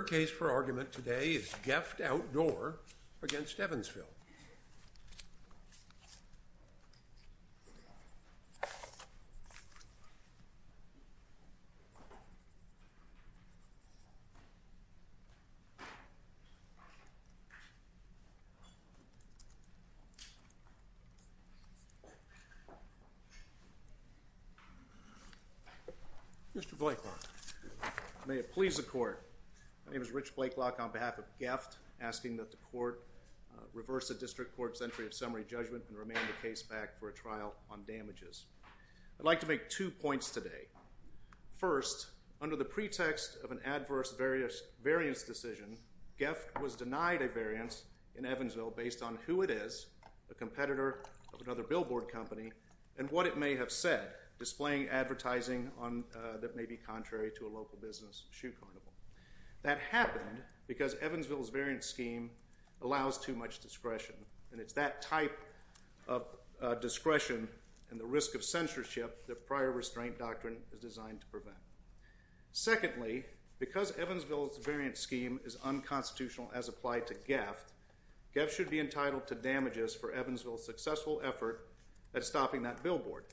Your case for argument today is GEFT Outdoor v. Evansville. Mr. Blaiklock, may it please the court, my name is Rich Blaiklock on behalf of GEFT asking that the court reverse the district court's entry of summary judgment and remand the case back for a trial on damages. I'd like to make two points today. First, under the pretext of an adverse variance decision, GEFT was denied a variance in Evansville based on who it is, a competitor of another billboard company, and what it may have said, displaying advertising that may be contrary to a local business shoe carnival. That happened because Evansville's variance scheme allows too much discretion, and it's that type of discretion and the risk of censorship that prior restraint doctrine is designed to prevent. Secondly, because Evansville's variance scheme is unconstitutional as applied to GEFT, GEFT should be entitled to damages for Evansville's successful effort at stopping that billboard.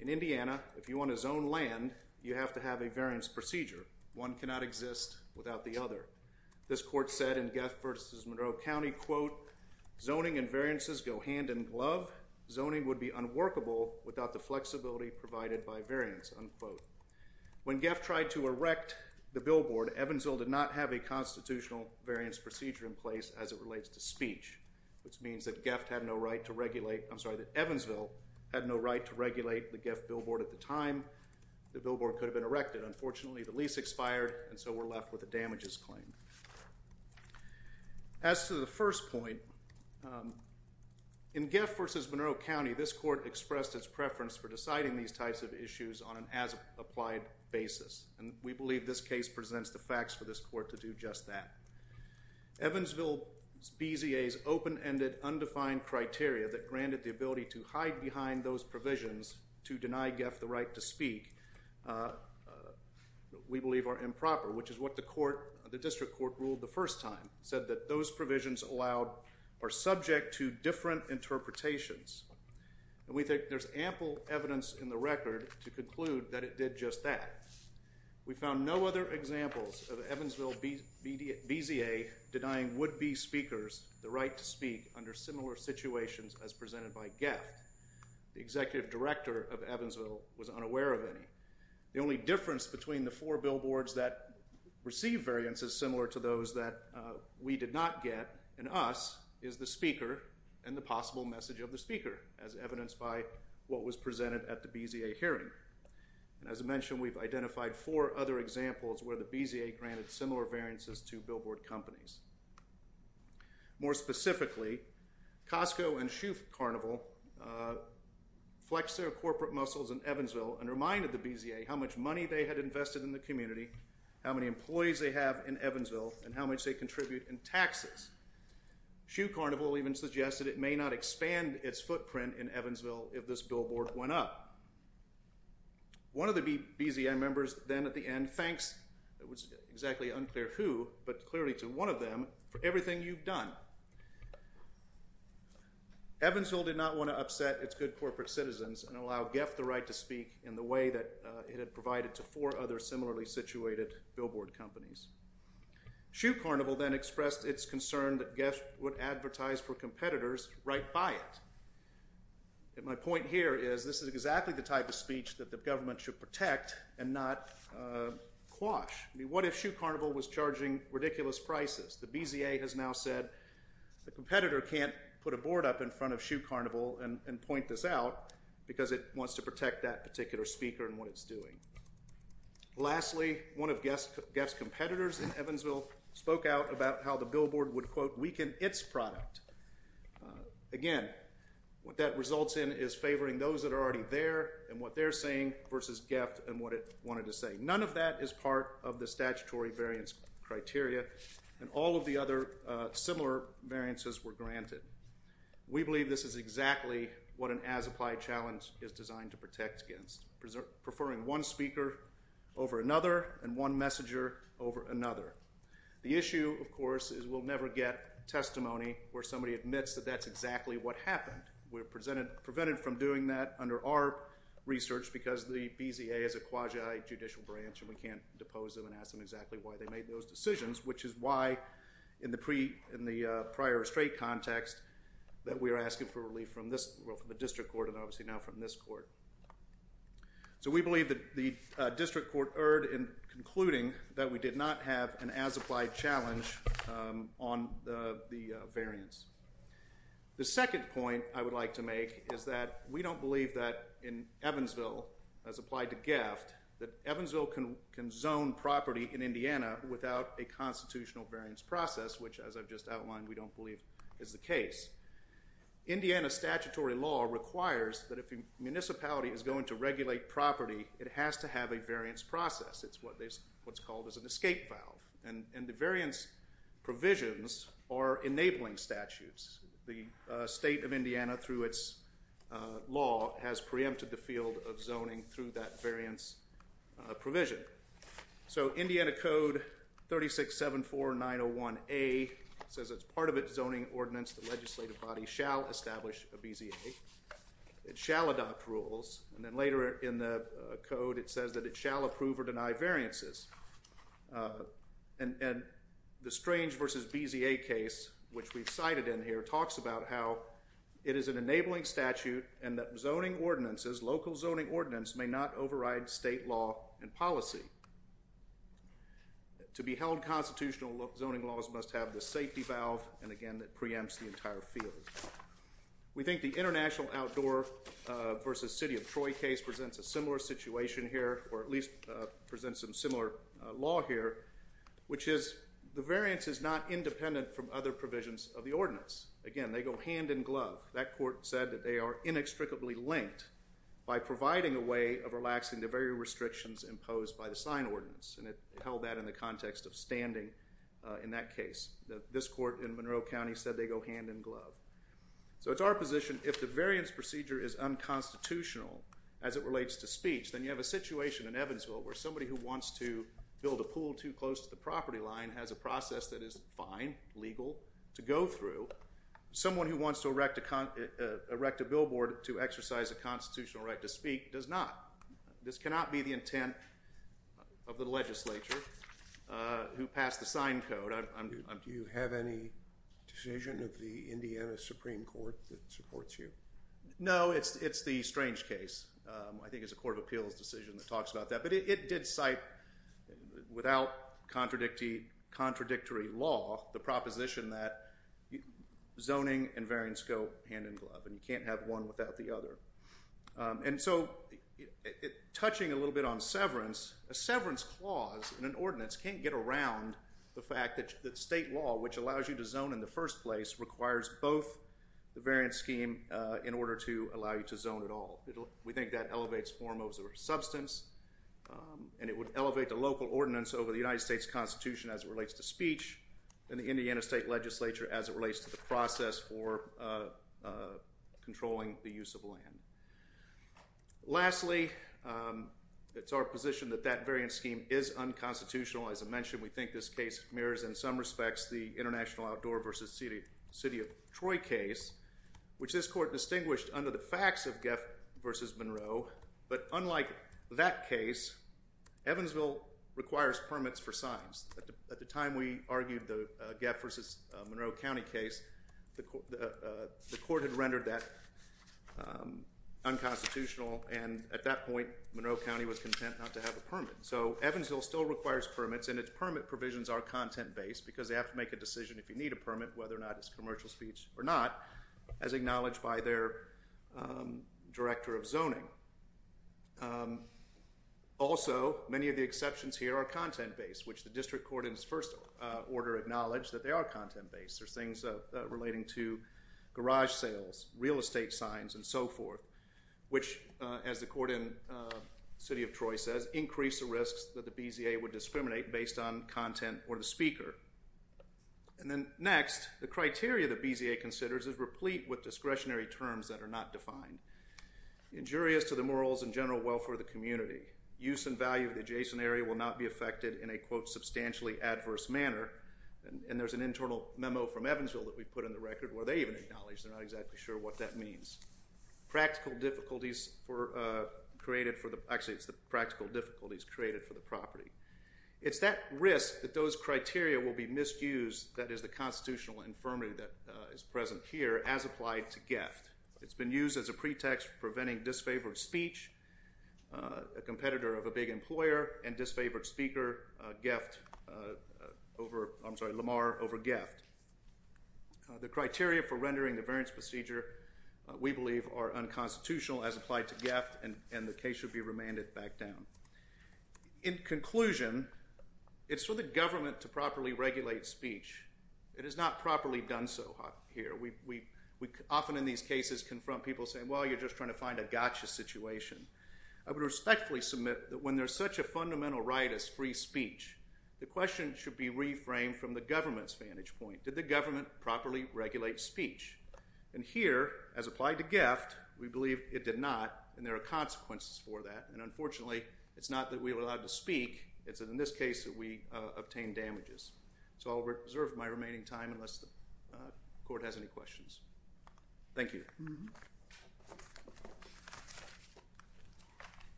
In Indiana, if you want to zone land, you have to have a variance procedure. One cannot exist without the other. This court said in GEFT v. Monroe County, quote, zoning and variances go hand in glove. Zoning would be unworkable without the flexibility provided by variance, unquote. When GEFT tried to erect the billboard, Evansville did not have a constitutional variance procedure in place as it relates to speech, which means that GEFT had no right to regulate, I'm sorry, that Evansville had no right to regulate the GEFT billboard at the time the billboard could have been erected. Unfortunately, the lease expired, and so we're left with a damages claim. As to the first point, in GEFT v. Monroe County, this court expressed its preference for deciding these types of issues on an as-applied basis, and we believe this case presents the facts for this court to do just that. Evansville's BZA's open-ended, undefined criteria that granted the ability to hide behind those we believe are improper, which is what the court, the district court ruled the first time, said that those provisions allowed are subject to different interpretations. We think there's ample evidence in the record to conclude that it did just that. We found no other examples of Evansville BZA denying would-be speakers the right to speak under similar situations as presented by GEFT. The executive director of Evansville was unaware of any. The only difference between the four billboards that received variances similar to those that we did not get, and us, is the speaker and the possible message of the speaker, as evidenced by what was presented at the BZA hearing. As mentioned, we've identified four other examples where the BZA granted similar variances to billboard companies. More specifically, Costco and Shoe Carnival flexed their corporate muscles in Evansville and reminded the BZA how much money they had invested in the community, how many employees they have in Evansville, and how much they contribute in taxes. Shoe Carnival even suggested it may not expand its footprint in Evansville if this billboard went up. One of the BZA members then, at the end, thanks, it was exactly unclear who, but clearly to one of them, for everything you've done. Evansville did not want to upset its good corporate citizens and allow GEFT the right to speak in the way that it had provided to four other similarly situated billboard companies. Shoe Carnival then expressed its concern that GEFT would advertise for competitors right by it. My point here is, this is exactly the type of speech that the government should protect and not quash. What if Shoe Carnival was charging ridiculous prices? The BZA has now said, the competitor can't put a board up in front of Shoe Carnival and look at that particular speaker and what it's doing. Lastly, one of GEFT's competitors in Evansville spoke out about how the billboard would, quote, weaken its product. Again, what that results in is favoring those that are already there and what they're saying versus GEFT and what it wanted to say. None of that is part of the statutory variance criteria, and all of the other similar variances were granted. We believe this is exactly what an as-applied challenge is designed to protect against, preferring one speaker over another and one messenger over another. The issue, of course, is we'll never get testimony where somebody admits that that's exactly what happened. We're prevented from doing that under our research because the BZA is a quasi-judicial branch and we can't depose them and ask them exactly why they made those decisions, which is why, in the prior restraint context, that we are asking for relief from the district court and obviously now from this court. We believe that the district court erred in concluding that we did not have an as-applied challenge on the variance. The second point I would like to make is that we don't believe that in Evansville, as applied to GEFT, that Evansville can zone property in Indiana without a constitutional variance process, which, as I've just outlined, we don't believe is the case. Indiana statutory law requires that if a municipality is going to regulate property, it has to have a variance process. It's what's called an escape file, and the variance provisions are enabling statutes. The state of Indiana, through its law, has preempted the field of zoning through that variance provision. So Indiana Code 3674901A says as part of its zoning ordinance, the legislative body shall establish a BZA. It shall adopt rules, and then later in the code, it says that it shall approve or deny variances. And the Strange v. BZA case, which we've cited in here, talks about how it is an enabling statute and that zoning ordinances, local zoning ordinances, may not override state law and policy. To be held constitutional, zoning laws must have the safety valve, and again, it preempts the entire field. We think the International Outdoor v. City of Troy case presents a similar situation here, or at least presents a similar law here, which is the variance is not independent from other provisions of the ordinance. Again, they go hand in glove. That court said that they are inextricably linked by providing a way of relaxing the very restrictions imposed by the sign ordinance, and it held that in the context of standing in that case. This court in Monroe County said they go hand in glove. So it's our position, if the variance procedure is unconstitutional as it relates to speech, then you have a situation in Evansville where somebody who wants to build a pool too close to the property line has a process that is fine, legal, to go through. Someone who wants to erect a billboard to exercise a constitutional right to speak does not. This cannot be the intent of the legislature who passed the sign code. Do you have any decision of the Indiana Supreme Court that supports you? No, it's the Strange case. I think it's a court of appeals decision that talks about that, but it did cite, without contradictory law, the proposition that zoning and variance go hand in glove, and you can't have one without the other. And so, touching a little bit on severance, a severance clause in an ordinance can't get around the fact that state law, which allows you to zone in the first place, requires both the variance scheme in order to allow you to zone at all. We think that elevates hormones or substance, and it would elevate the local ordinance over the United States Constitution as it relates to speech, and the Indiana State Legislature as it relates to the process for controlling the use of land. Lastly, it's our position that that variance scheme is unconstitutional. As I mentioned, we think this case mirrors, in some respects, the International Outdoor v. City of Troy case, which this court distinguished under the facts of Geff v. Monroe, but unlike that case, Evansville requires permits for signs. At the time we argued the Geff v. Monroe County case, the court had rendered that unconstitutional, and at that point, Monroe County was content not to have a permit. So Evansville still requires permits, and its permit provisions are content-based, because they have to make a decision if you need a permit, whether or not it's commercial speech or not, as acknowledged by their director of zoning. Also, many of the exceptions here are content-based, which the district court in its first order acknowledged that they are content-based. There are things relating to garage sales, real estate signs, and so forth, which, as the court in City of Troy says, increase the risks that the BZA would discriminate based on content or the speaker. And then next, the criteria that BZA considers is replete with discretionary terms that are not defined. Injurious to the morals and general welfare of the community, use and value of the adjacent area will not be affected in a, quote, substantially adverse manner, and there's an internal memo from Evansville that we put in the record, where they even acknowledge they're not exactly sure what that means. Practical difficulties were created for the, actually, it's the practical difficulties created for the property. It's that risk that those criteria will be misused that is the constitutional infirmity that is present here, as applied to Geft. It's been used as a pretext for preventing disfavored speech, a competitor of a big employer, and disfavored speaker, Geft, over, I'm sorry, Lamar over Geft. The criteria for rendering the variance procedure, we believe, are unconstitutional as applied to Geft, and the case should be remanded back down. In conclusion, it's for the government to properly regulate speech. It is not properly done so here. We often, in these cases, confront people saying, well, you're just trying to find a gotcha situation. I would respectfully submit that when there's such a fundamental right as free speech, the question should be reframed from the government's vantage point. Did the government properly regulate speech? And here, as applied to Geft, we believe it did not, and there are consequences for that, and unfortunately, it's not that we were allowed to speak, it's in this case that we obtained damages. So I'll reserve my remaining time unless the court has any questions. Thank you.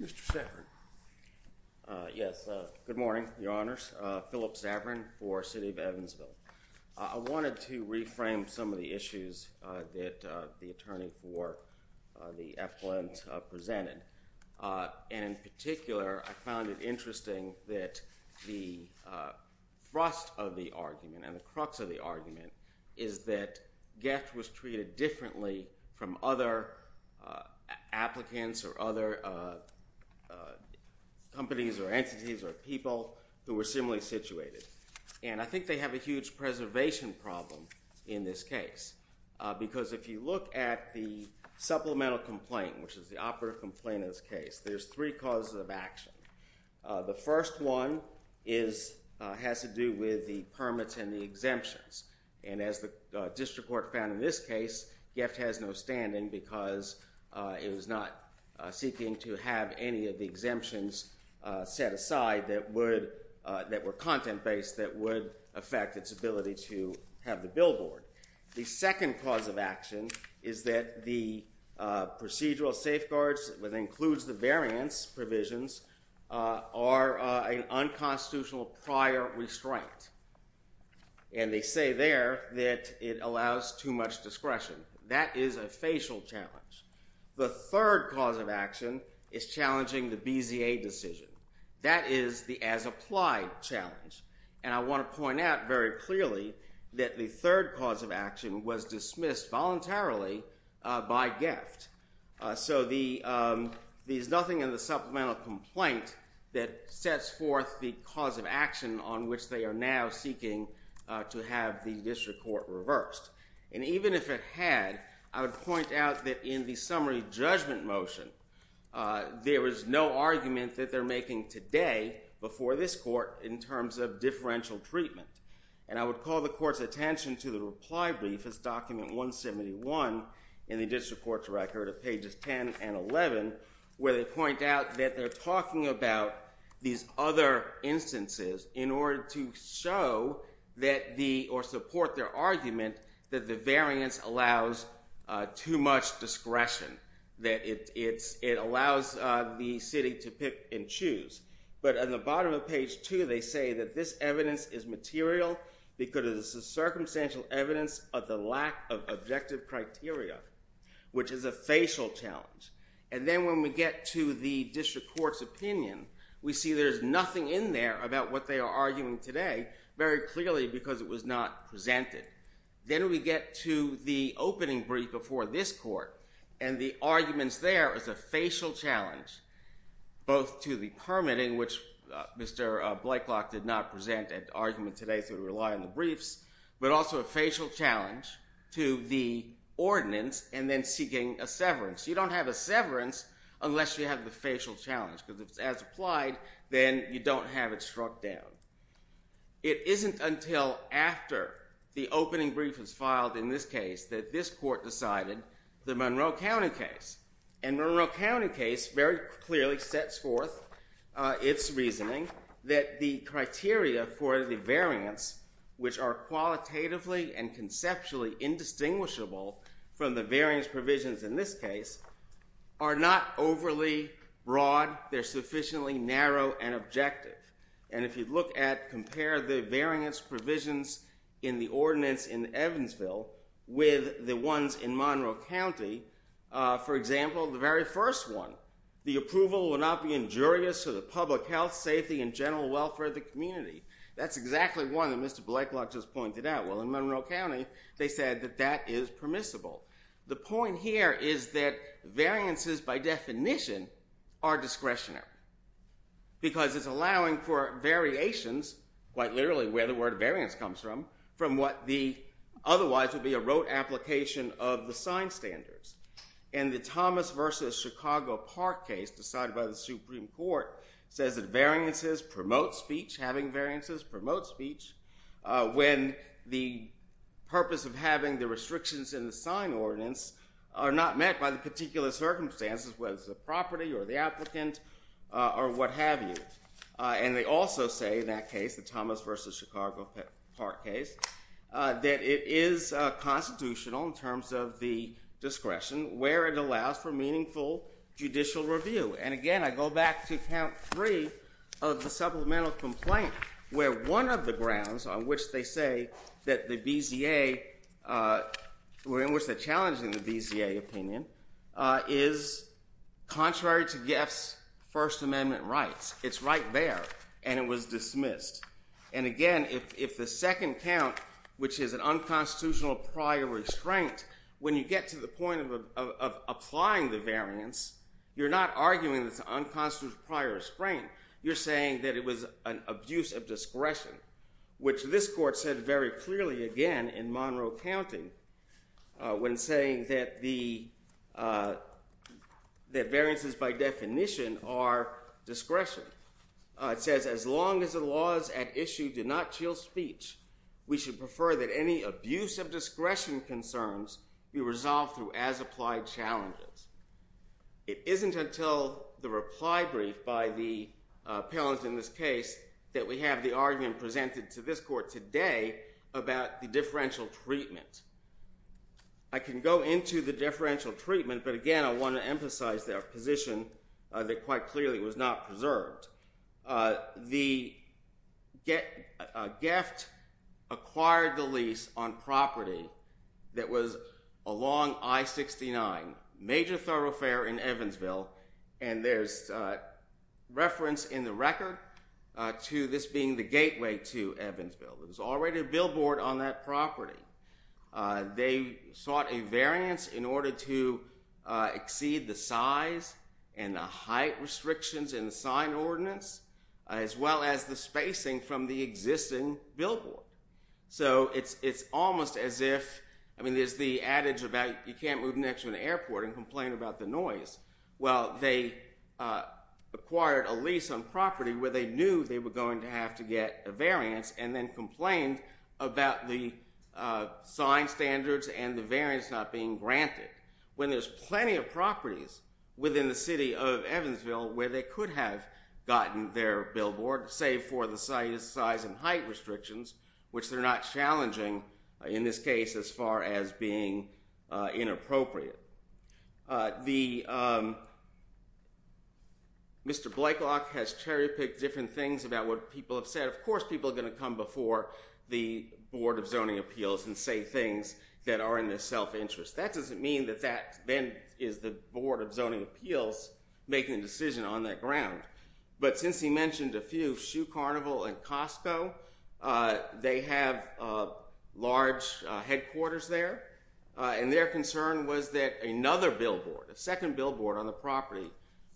Mr. Zavarin. Yes. Good morning, Your Honors. Philip Zavarin for the City of Evansville. I wanted to reframe some of the issues that the attorney for the FOMs presented, and in particular, I found it interesting that the thrust of the argument and the crux of the argument is that Geft was treated differently from other applicants or other companies or entities or people who were similarly situated. And I think they have a huge preservation problem in this case, because if you look at the supplemental complaint, which is the operative complaint in this case, there's three causes of action. The first one has to do with the permits and the exemptions, and as the district court found in this case, Geft has no standing because it was not seeking to have any of the exemptions set aside that were content-based that would affect its ability to have the billboard. The second cause of action is that the procedural safeguards, which includes the variance provisions, are an unconstitutional prior restraint, and they say there that it allows too much discretion. That is a facial challenge. The third cause of action is challenging the BZA decision. That is the as-applied challenge, and I want to point out very clearly that the third cause of action was dismissed voluntarily by Geft. So there's nothing in the supplemental complaint that sets forth the cause of action on which they are now seeking to have the district court reversed, and even if it had, I would say, a summary judgment motion, there is no argument that they're making today before this court in terms of differential treatment, and I would call the court's attention to the reply brief as document 171 in the district court's record of pages 10 and 11, where they point out that they're talking about these other instances in order to show that the, or support their argument that the variance allows too much discretion, that it's, it allows the city to pick and choose, but on the bottom of page two, they say that this evidence is material because it's a circumstantial evidence of the lack of objective criteria, which is a facial challenge, and then when we get to the district court's opinion, we see there's nothing in there about what they are arguing today, very clearly because it was not presented. Then we get to the opening brief before this court, and the arguments there is a facial challenge, both to the permitting, which Mr. Blakelock did not present at the argument today, so we rely on the briefs, but also a facial challenge to the ordinance, and then seeking a severance. You don't have a severance unless you have the facial challenge, because if it's as applied, then you don't have it struck down. It isn't until after the opening brief is filed in this case that this court decided the Monroe County case, and Monroe County case very clearly sets forth its reasoning that the criteria for the variance, which are qualitatively and conceptually indistinguishable from the variance provisions in this case, are not overly broad. They're sufficiently narrow and objective, and if you look at, compare the variance provisions in the ordinance in Evansville with the ones in Monroe County, for example, the very first one, the approval will not be injurious to the public health, safety, and general welfare of the community. That's exactly one that Mr. Blakelock just pointed out. Well, in Monroe County, they said that that is permissible. The point here is that variances, by definition, are discretionary, because it's allowing for variations, quite literally where the word variance comes from, from what the otherwise would be a rote application of the sign standards, and the Thomas versus Chicago Park case decided by the Supreme Court says that variances promote speech, having variances promote speech, when the purpose of having the restrictions in the sign ordinance are not met by the particular circumstances, whether it's the property or the applicant or what have you, and they also say in that case, the Thomas versus Chicago Park case, that it is constitutional in terms of the discretion, where it allows for meaningful judicial review, and again, I go back to count three of the supplemental complaint, where one of the grounds on which they say that the BZA, or in which they're challenging the BZA opinion, is contrary to Geff's First Amendment rights. It's right there, and it was dismissed, and again, if the second count, which is an unconstitutional prior restraint, when you get to the point of applying the variance, you're not arguing that it's an unconstitutional prior restraint. You're saying that it was an abuse of discretion, which this court said very clearly, again, in Monroe County, when saying that the, that variances by definition are discretion. It says, as long as the laws at issue did not chill speech, we should prefer that any abuse of discretion concerns be resolved through as-applied challenges. It isn't until the reply brief by the appellant in this case that we have the argument presented to this court today about the differential treatment. I can go into the differential treatment, but again, I want to emphasize their position that quite clearly was not preserved. The, Geff acquired the lease on property that was along I-69, major thoroughfare in Evansville, and there's reference in the attacker to this being the gateway to Evansville. There was already a billboard on that property. They sought a variance in order to exceed the size and the height restrictions in the sign ordinance, as well as the spacing from the existing billboard. So it's almost as if, I mean, there's the adage about you can't move next to an airport and complain about the noise. Well, they acquired a lease on property where they knew they were going to have to get a variance and then complained about the sign standards and the variance not being granted, when there's plenty of properties within the city of Evansville where they could have gotten their billboard, save for the size and height restrictions, which are not challenging in this case as far as being inappropriate. Mr. Blakelock has cherry-picked different things about what people have said. Of course, people are going to come before the Board of Zoning Appeals and say things that are in their self-interest. That doesn't mean that that then is the Board of Zoning Appeals making a decision on that ground, but since he mentioned a few, Shoe Carnival and Costco, they have large headquarters there, and their concern was that another billboard, a second billboard on the property,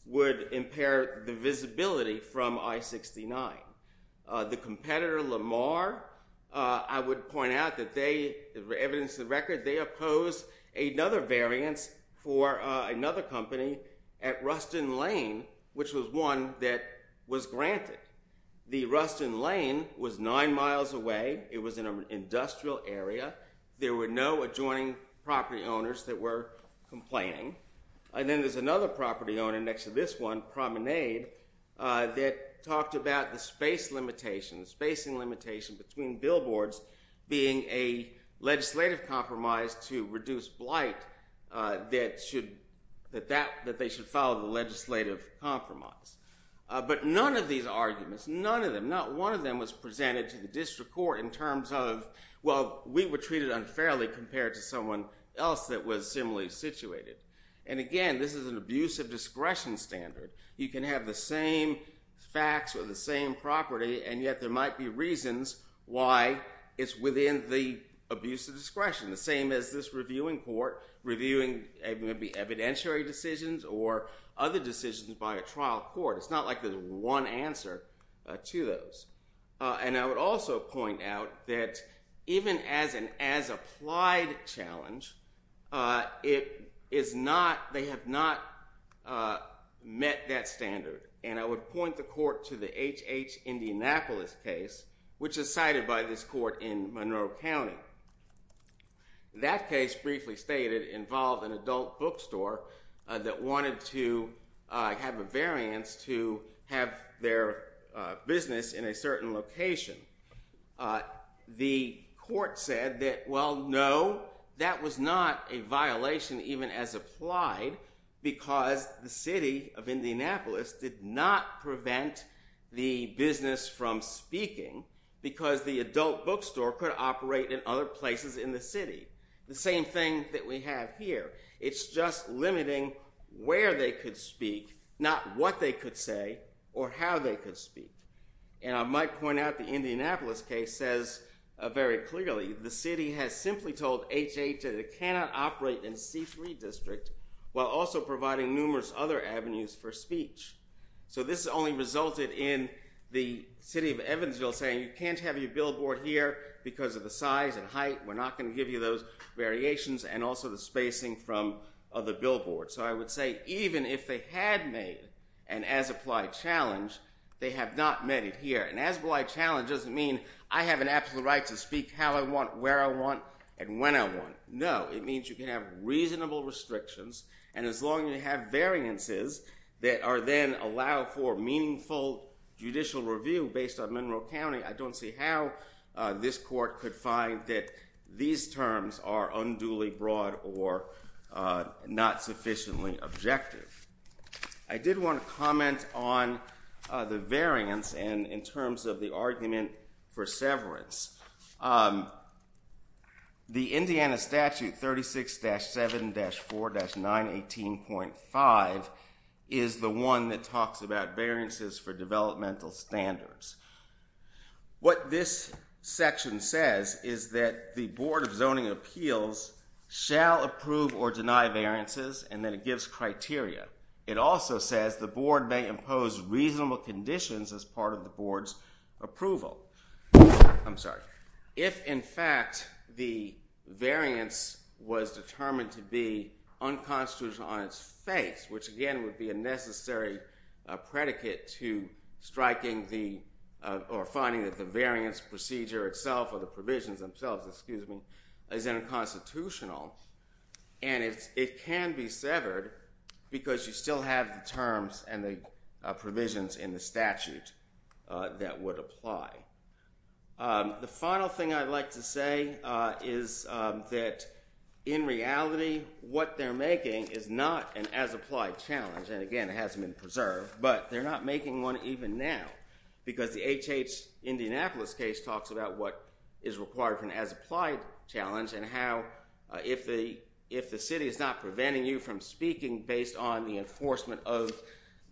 would impair the visibility from I-69. The competitor, Lamar, I would point out that they, evidence of the record, they opposed another variance for another company at Ruston Lane, which was one that was granted. The Ruston Lane was nine miles away, it was in an industrial area, there were no adjoining property owners that were complaining, and then there's another property owner next to this one, Promenade, that talked about the space limitation, the spacing limitation, between billboards being a legislative compromise to reduce blight that they should follow the legislative compromise. But none of these arguments, none of them, not one of them was presented to the district court in terms of, well, we were treated unfairly compared to someone else that was similarly situated. And again, this is an abuse of discretion standard. You can have the same facts or the same property, and yet there might be reasons why it's within the abuse of discretion. The same as this reviewing court, reviewing maybe evidentiary decisions or other decisions by a trial court. It's not like there's one answer to those. And I would also point out that even as an as-applied challenge, it is not, they have not met that standard. And I would point the court to the H.H. Indianapolis case, which is cited by this court in Monroe County. That case, briefly stated, involved an adult bookstore that wanted to have a variance to have their business in a certain location. The court said that, well, no, that was not a violation even as applied because the city of Indianapolis did not prevent the business from speaking because the adult bookstore could operate in other places in the city. The same thing that we have here. It's just limiting where they could speak, not what they could say or how they could speak. And I might point out the Indianapolis case says very clearly, the city has simply told H.H. that it cannot operate in C3 district while also providing numerous other avenues for speech. So this only resulted in the city of Evansville saying you can't have your billboard here because of the size and height. We're not going to give you those variations and also the spacing from other billboards. So I would say even if they had made an as-applied challenge, they have not met it here. An as-applied challenge doesn't mean I have an absolute right to speak how I want, where I want, and when I want. No, it means you can have reasonable restrictions and as long as you have variances that are then allowed for meaningful judicial review based on Monroe County, I don't see how this court could find that these terms are unduly broad or not sufficiently objective. I did want to comment on the variance in terms of the argument for severance. The Indiana statute 36-7-4-918.5 is the one that talks about variances for developmental standards. What this section says is that the Board of Zoning Appeals shall approve or deny variances and that it gives criteria. It also says the Board's approval. I'm sorry. If in fact the variance was determined to be unconstitutional on its face, which again would be a necessary predicate to striking the or finding that the variance procedure itself or the provisions themselves, excuse me, is unconstitutional and it can be severed because you still have the terms and the provisions in the statute that would apply. The final thing I'd like to say is that in reality what they're making is not an as-applied challenge and again it hasn't been preserved, but they're not making one even now because the HH Indianapolis case talks about what is required for an as-applied challenge and how if the city is not preventing you from speaking based on the enforcement of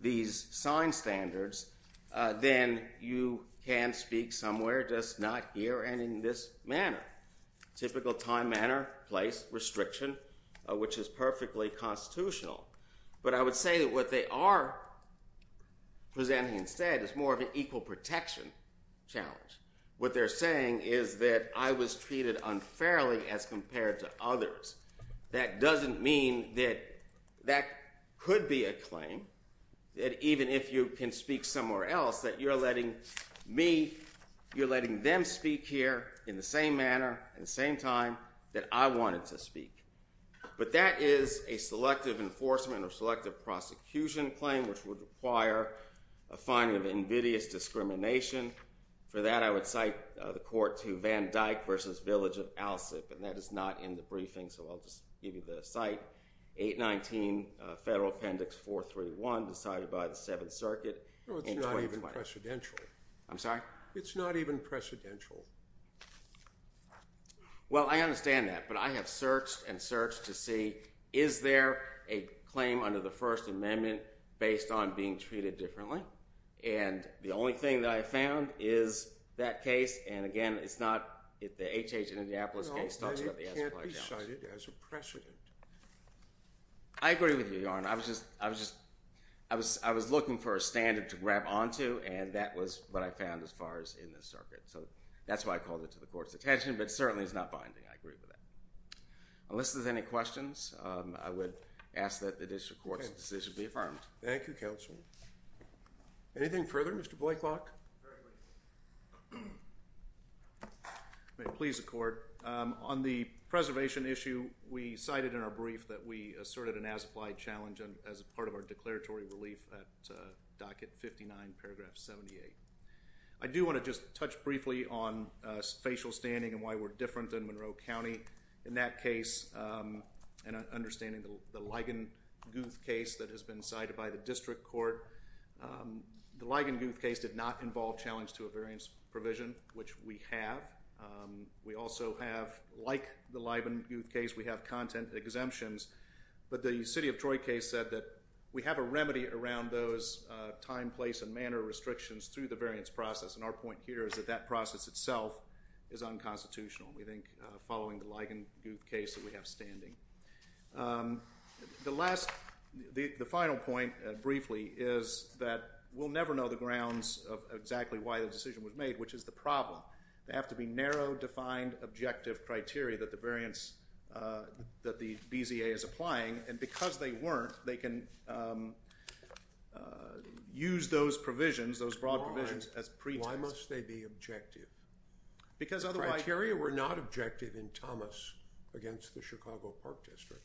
these sign standards, then you can speak somewhere, just not here and in this manner. Typical time, manner, place, restriction, which is perfectly constitutional, but I would say that what they are presenting instead is more of an equal protection challenge. What they're saying is that I was treated unfairly as compared to others. That doesn't be a claim, that even if you can speak somewhere else, that you're letting me, you're letting them speak here in the same manner, in the same time that I wanted to speak. But that is a selective enforcement or selective prosecution claim, which would require a finding of invidious discrimination. For that I would cite the court to Van Dyck versus Village of Alsip and that is not in the briefing, so I'll just give you the cite. 819 Federal Appendix 431 decided by the Seventh Circuit in 2020. It's not even precedential. I'm sorry? It's not even precedential. Well, I understand that, but I have searched and searched to see, is there a claim under the First Amendment based on being treated differently? And the only thing that I found is that case, and again, it's not, the H.H. Indianapolis case talks about the as a by-counsel. No, it can't be cited as a precedent. I agree with you, Your Honor. I was just, I was just, I was looking for a standard to grab onto and that was what I found as far as in the circuit. So, that's why I called it to the court's attention, but certainly it's not binding, I agree with that. Unless there's any questions, I would ask that the district court's decision be affirmed. Thank you, Counselor. Anything further, Mr. Blakelock? Certainly. May it please the court. On the preservation issue, we cited in our brief that we asserted an as-applied challenge as part of our declaratory relief at docket 59, paragraph 78. I do want to just touch briefly on facial standing and why we're different than Monroe County. In that case, and understanding the Ligon Guth case that has been cited by the district court, the Ligon Guth case did not involve challenge to a variance provision, which we have. We also have, like the Ligon Guth case, we have content exemptions, but the City of Troy case said that we have a remedy around those time, place, and manner restrictions through the variance process, and our point here is that that process itself is unconstitutional. We think, following the Ligon Guth case, that we have standing. The last, the final point, briefly, is that we'll never know the grounds of exactly why the decision was made, which is the problem. They have to be narrow, defined, objective criteria that the variance, that the BZA is applying, and because they weren't, they can use those provisions, those broad provisions, as pretexts. Why must they be objective? Because otherwise... Criteria were not objective in Thomas against the Chicago Park District,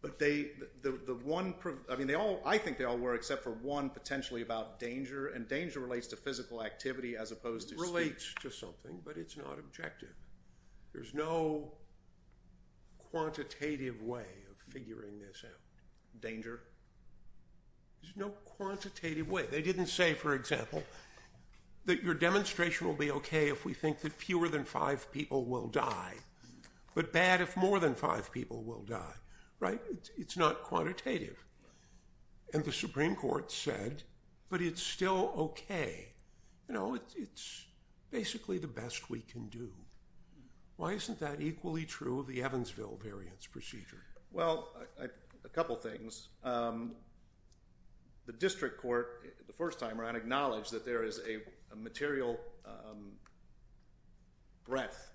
but they, the one, I mean, they all, I think they all were except for one potentially about danger, and danger relates to physical activity as opposed to speech. It relates to something, but it's not objective. There's no quantitative way of figuring this out. Danger? There's no quantitative way. They didn't say, for example, that your demonstration will be okay if we think that fewer than five people will die, but bad if more than five people will die, right? It's not quantitative. And the Supreme Court said, but it's still okay. You know, it's basically the best we can do. Why isn't that equally true of the Evansville variance procedure? Well, a couple things. The district court, the first time around, acknowledged that there is a material breadth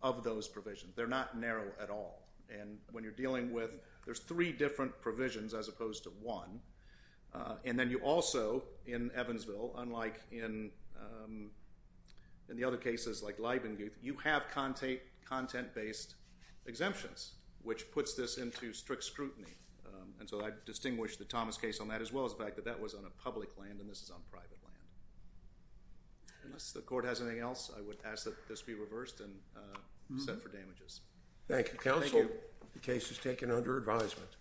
of those provisions. They're not narrow at all, and when you're dealing with, there's three different provisions as opposed to one, and then you also, in Evansville, unlike in the other cases like Leibengate, you have content-based exemptions, which puts this into strict scrutiny, and so I distinguish the Thomas case on that as well as the fact that that was on a public land and this is on private land. Unless the court has anything else, I would ask that this be reversed and set for damages. Thank you, counsel. The case is taken under advisement.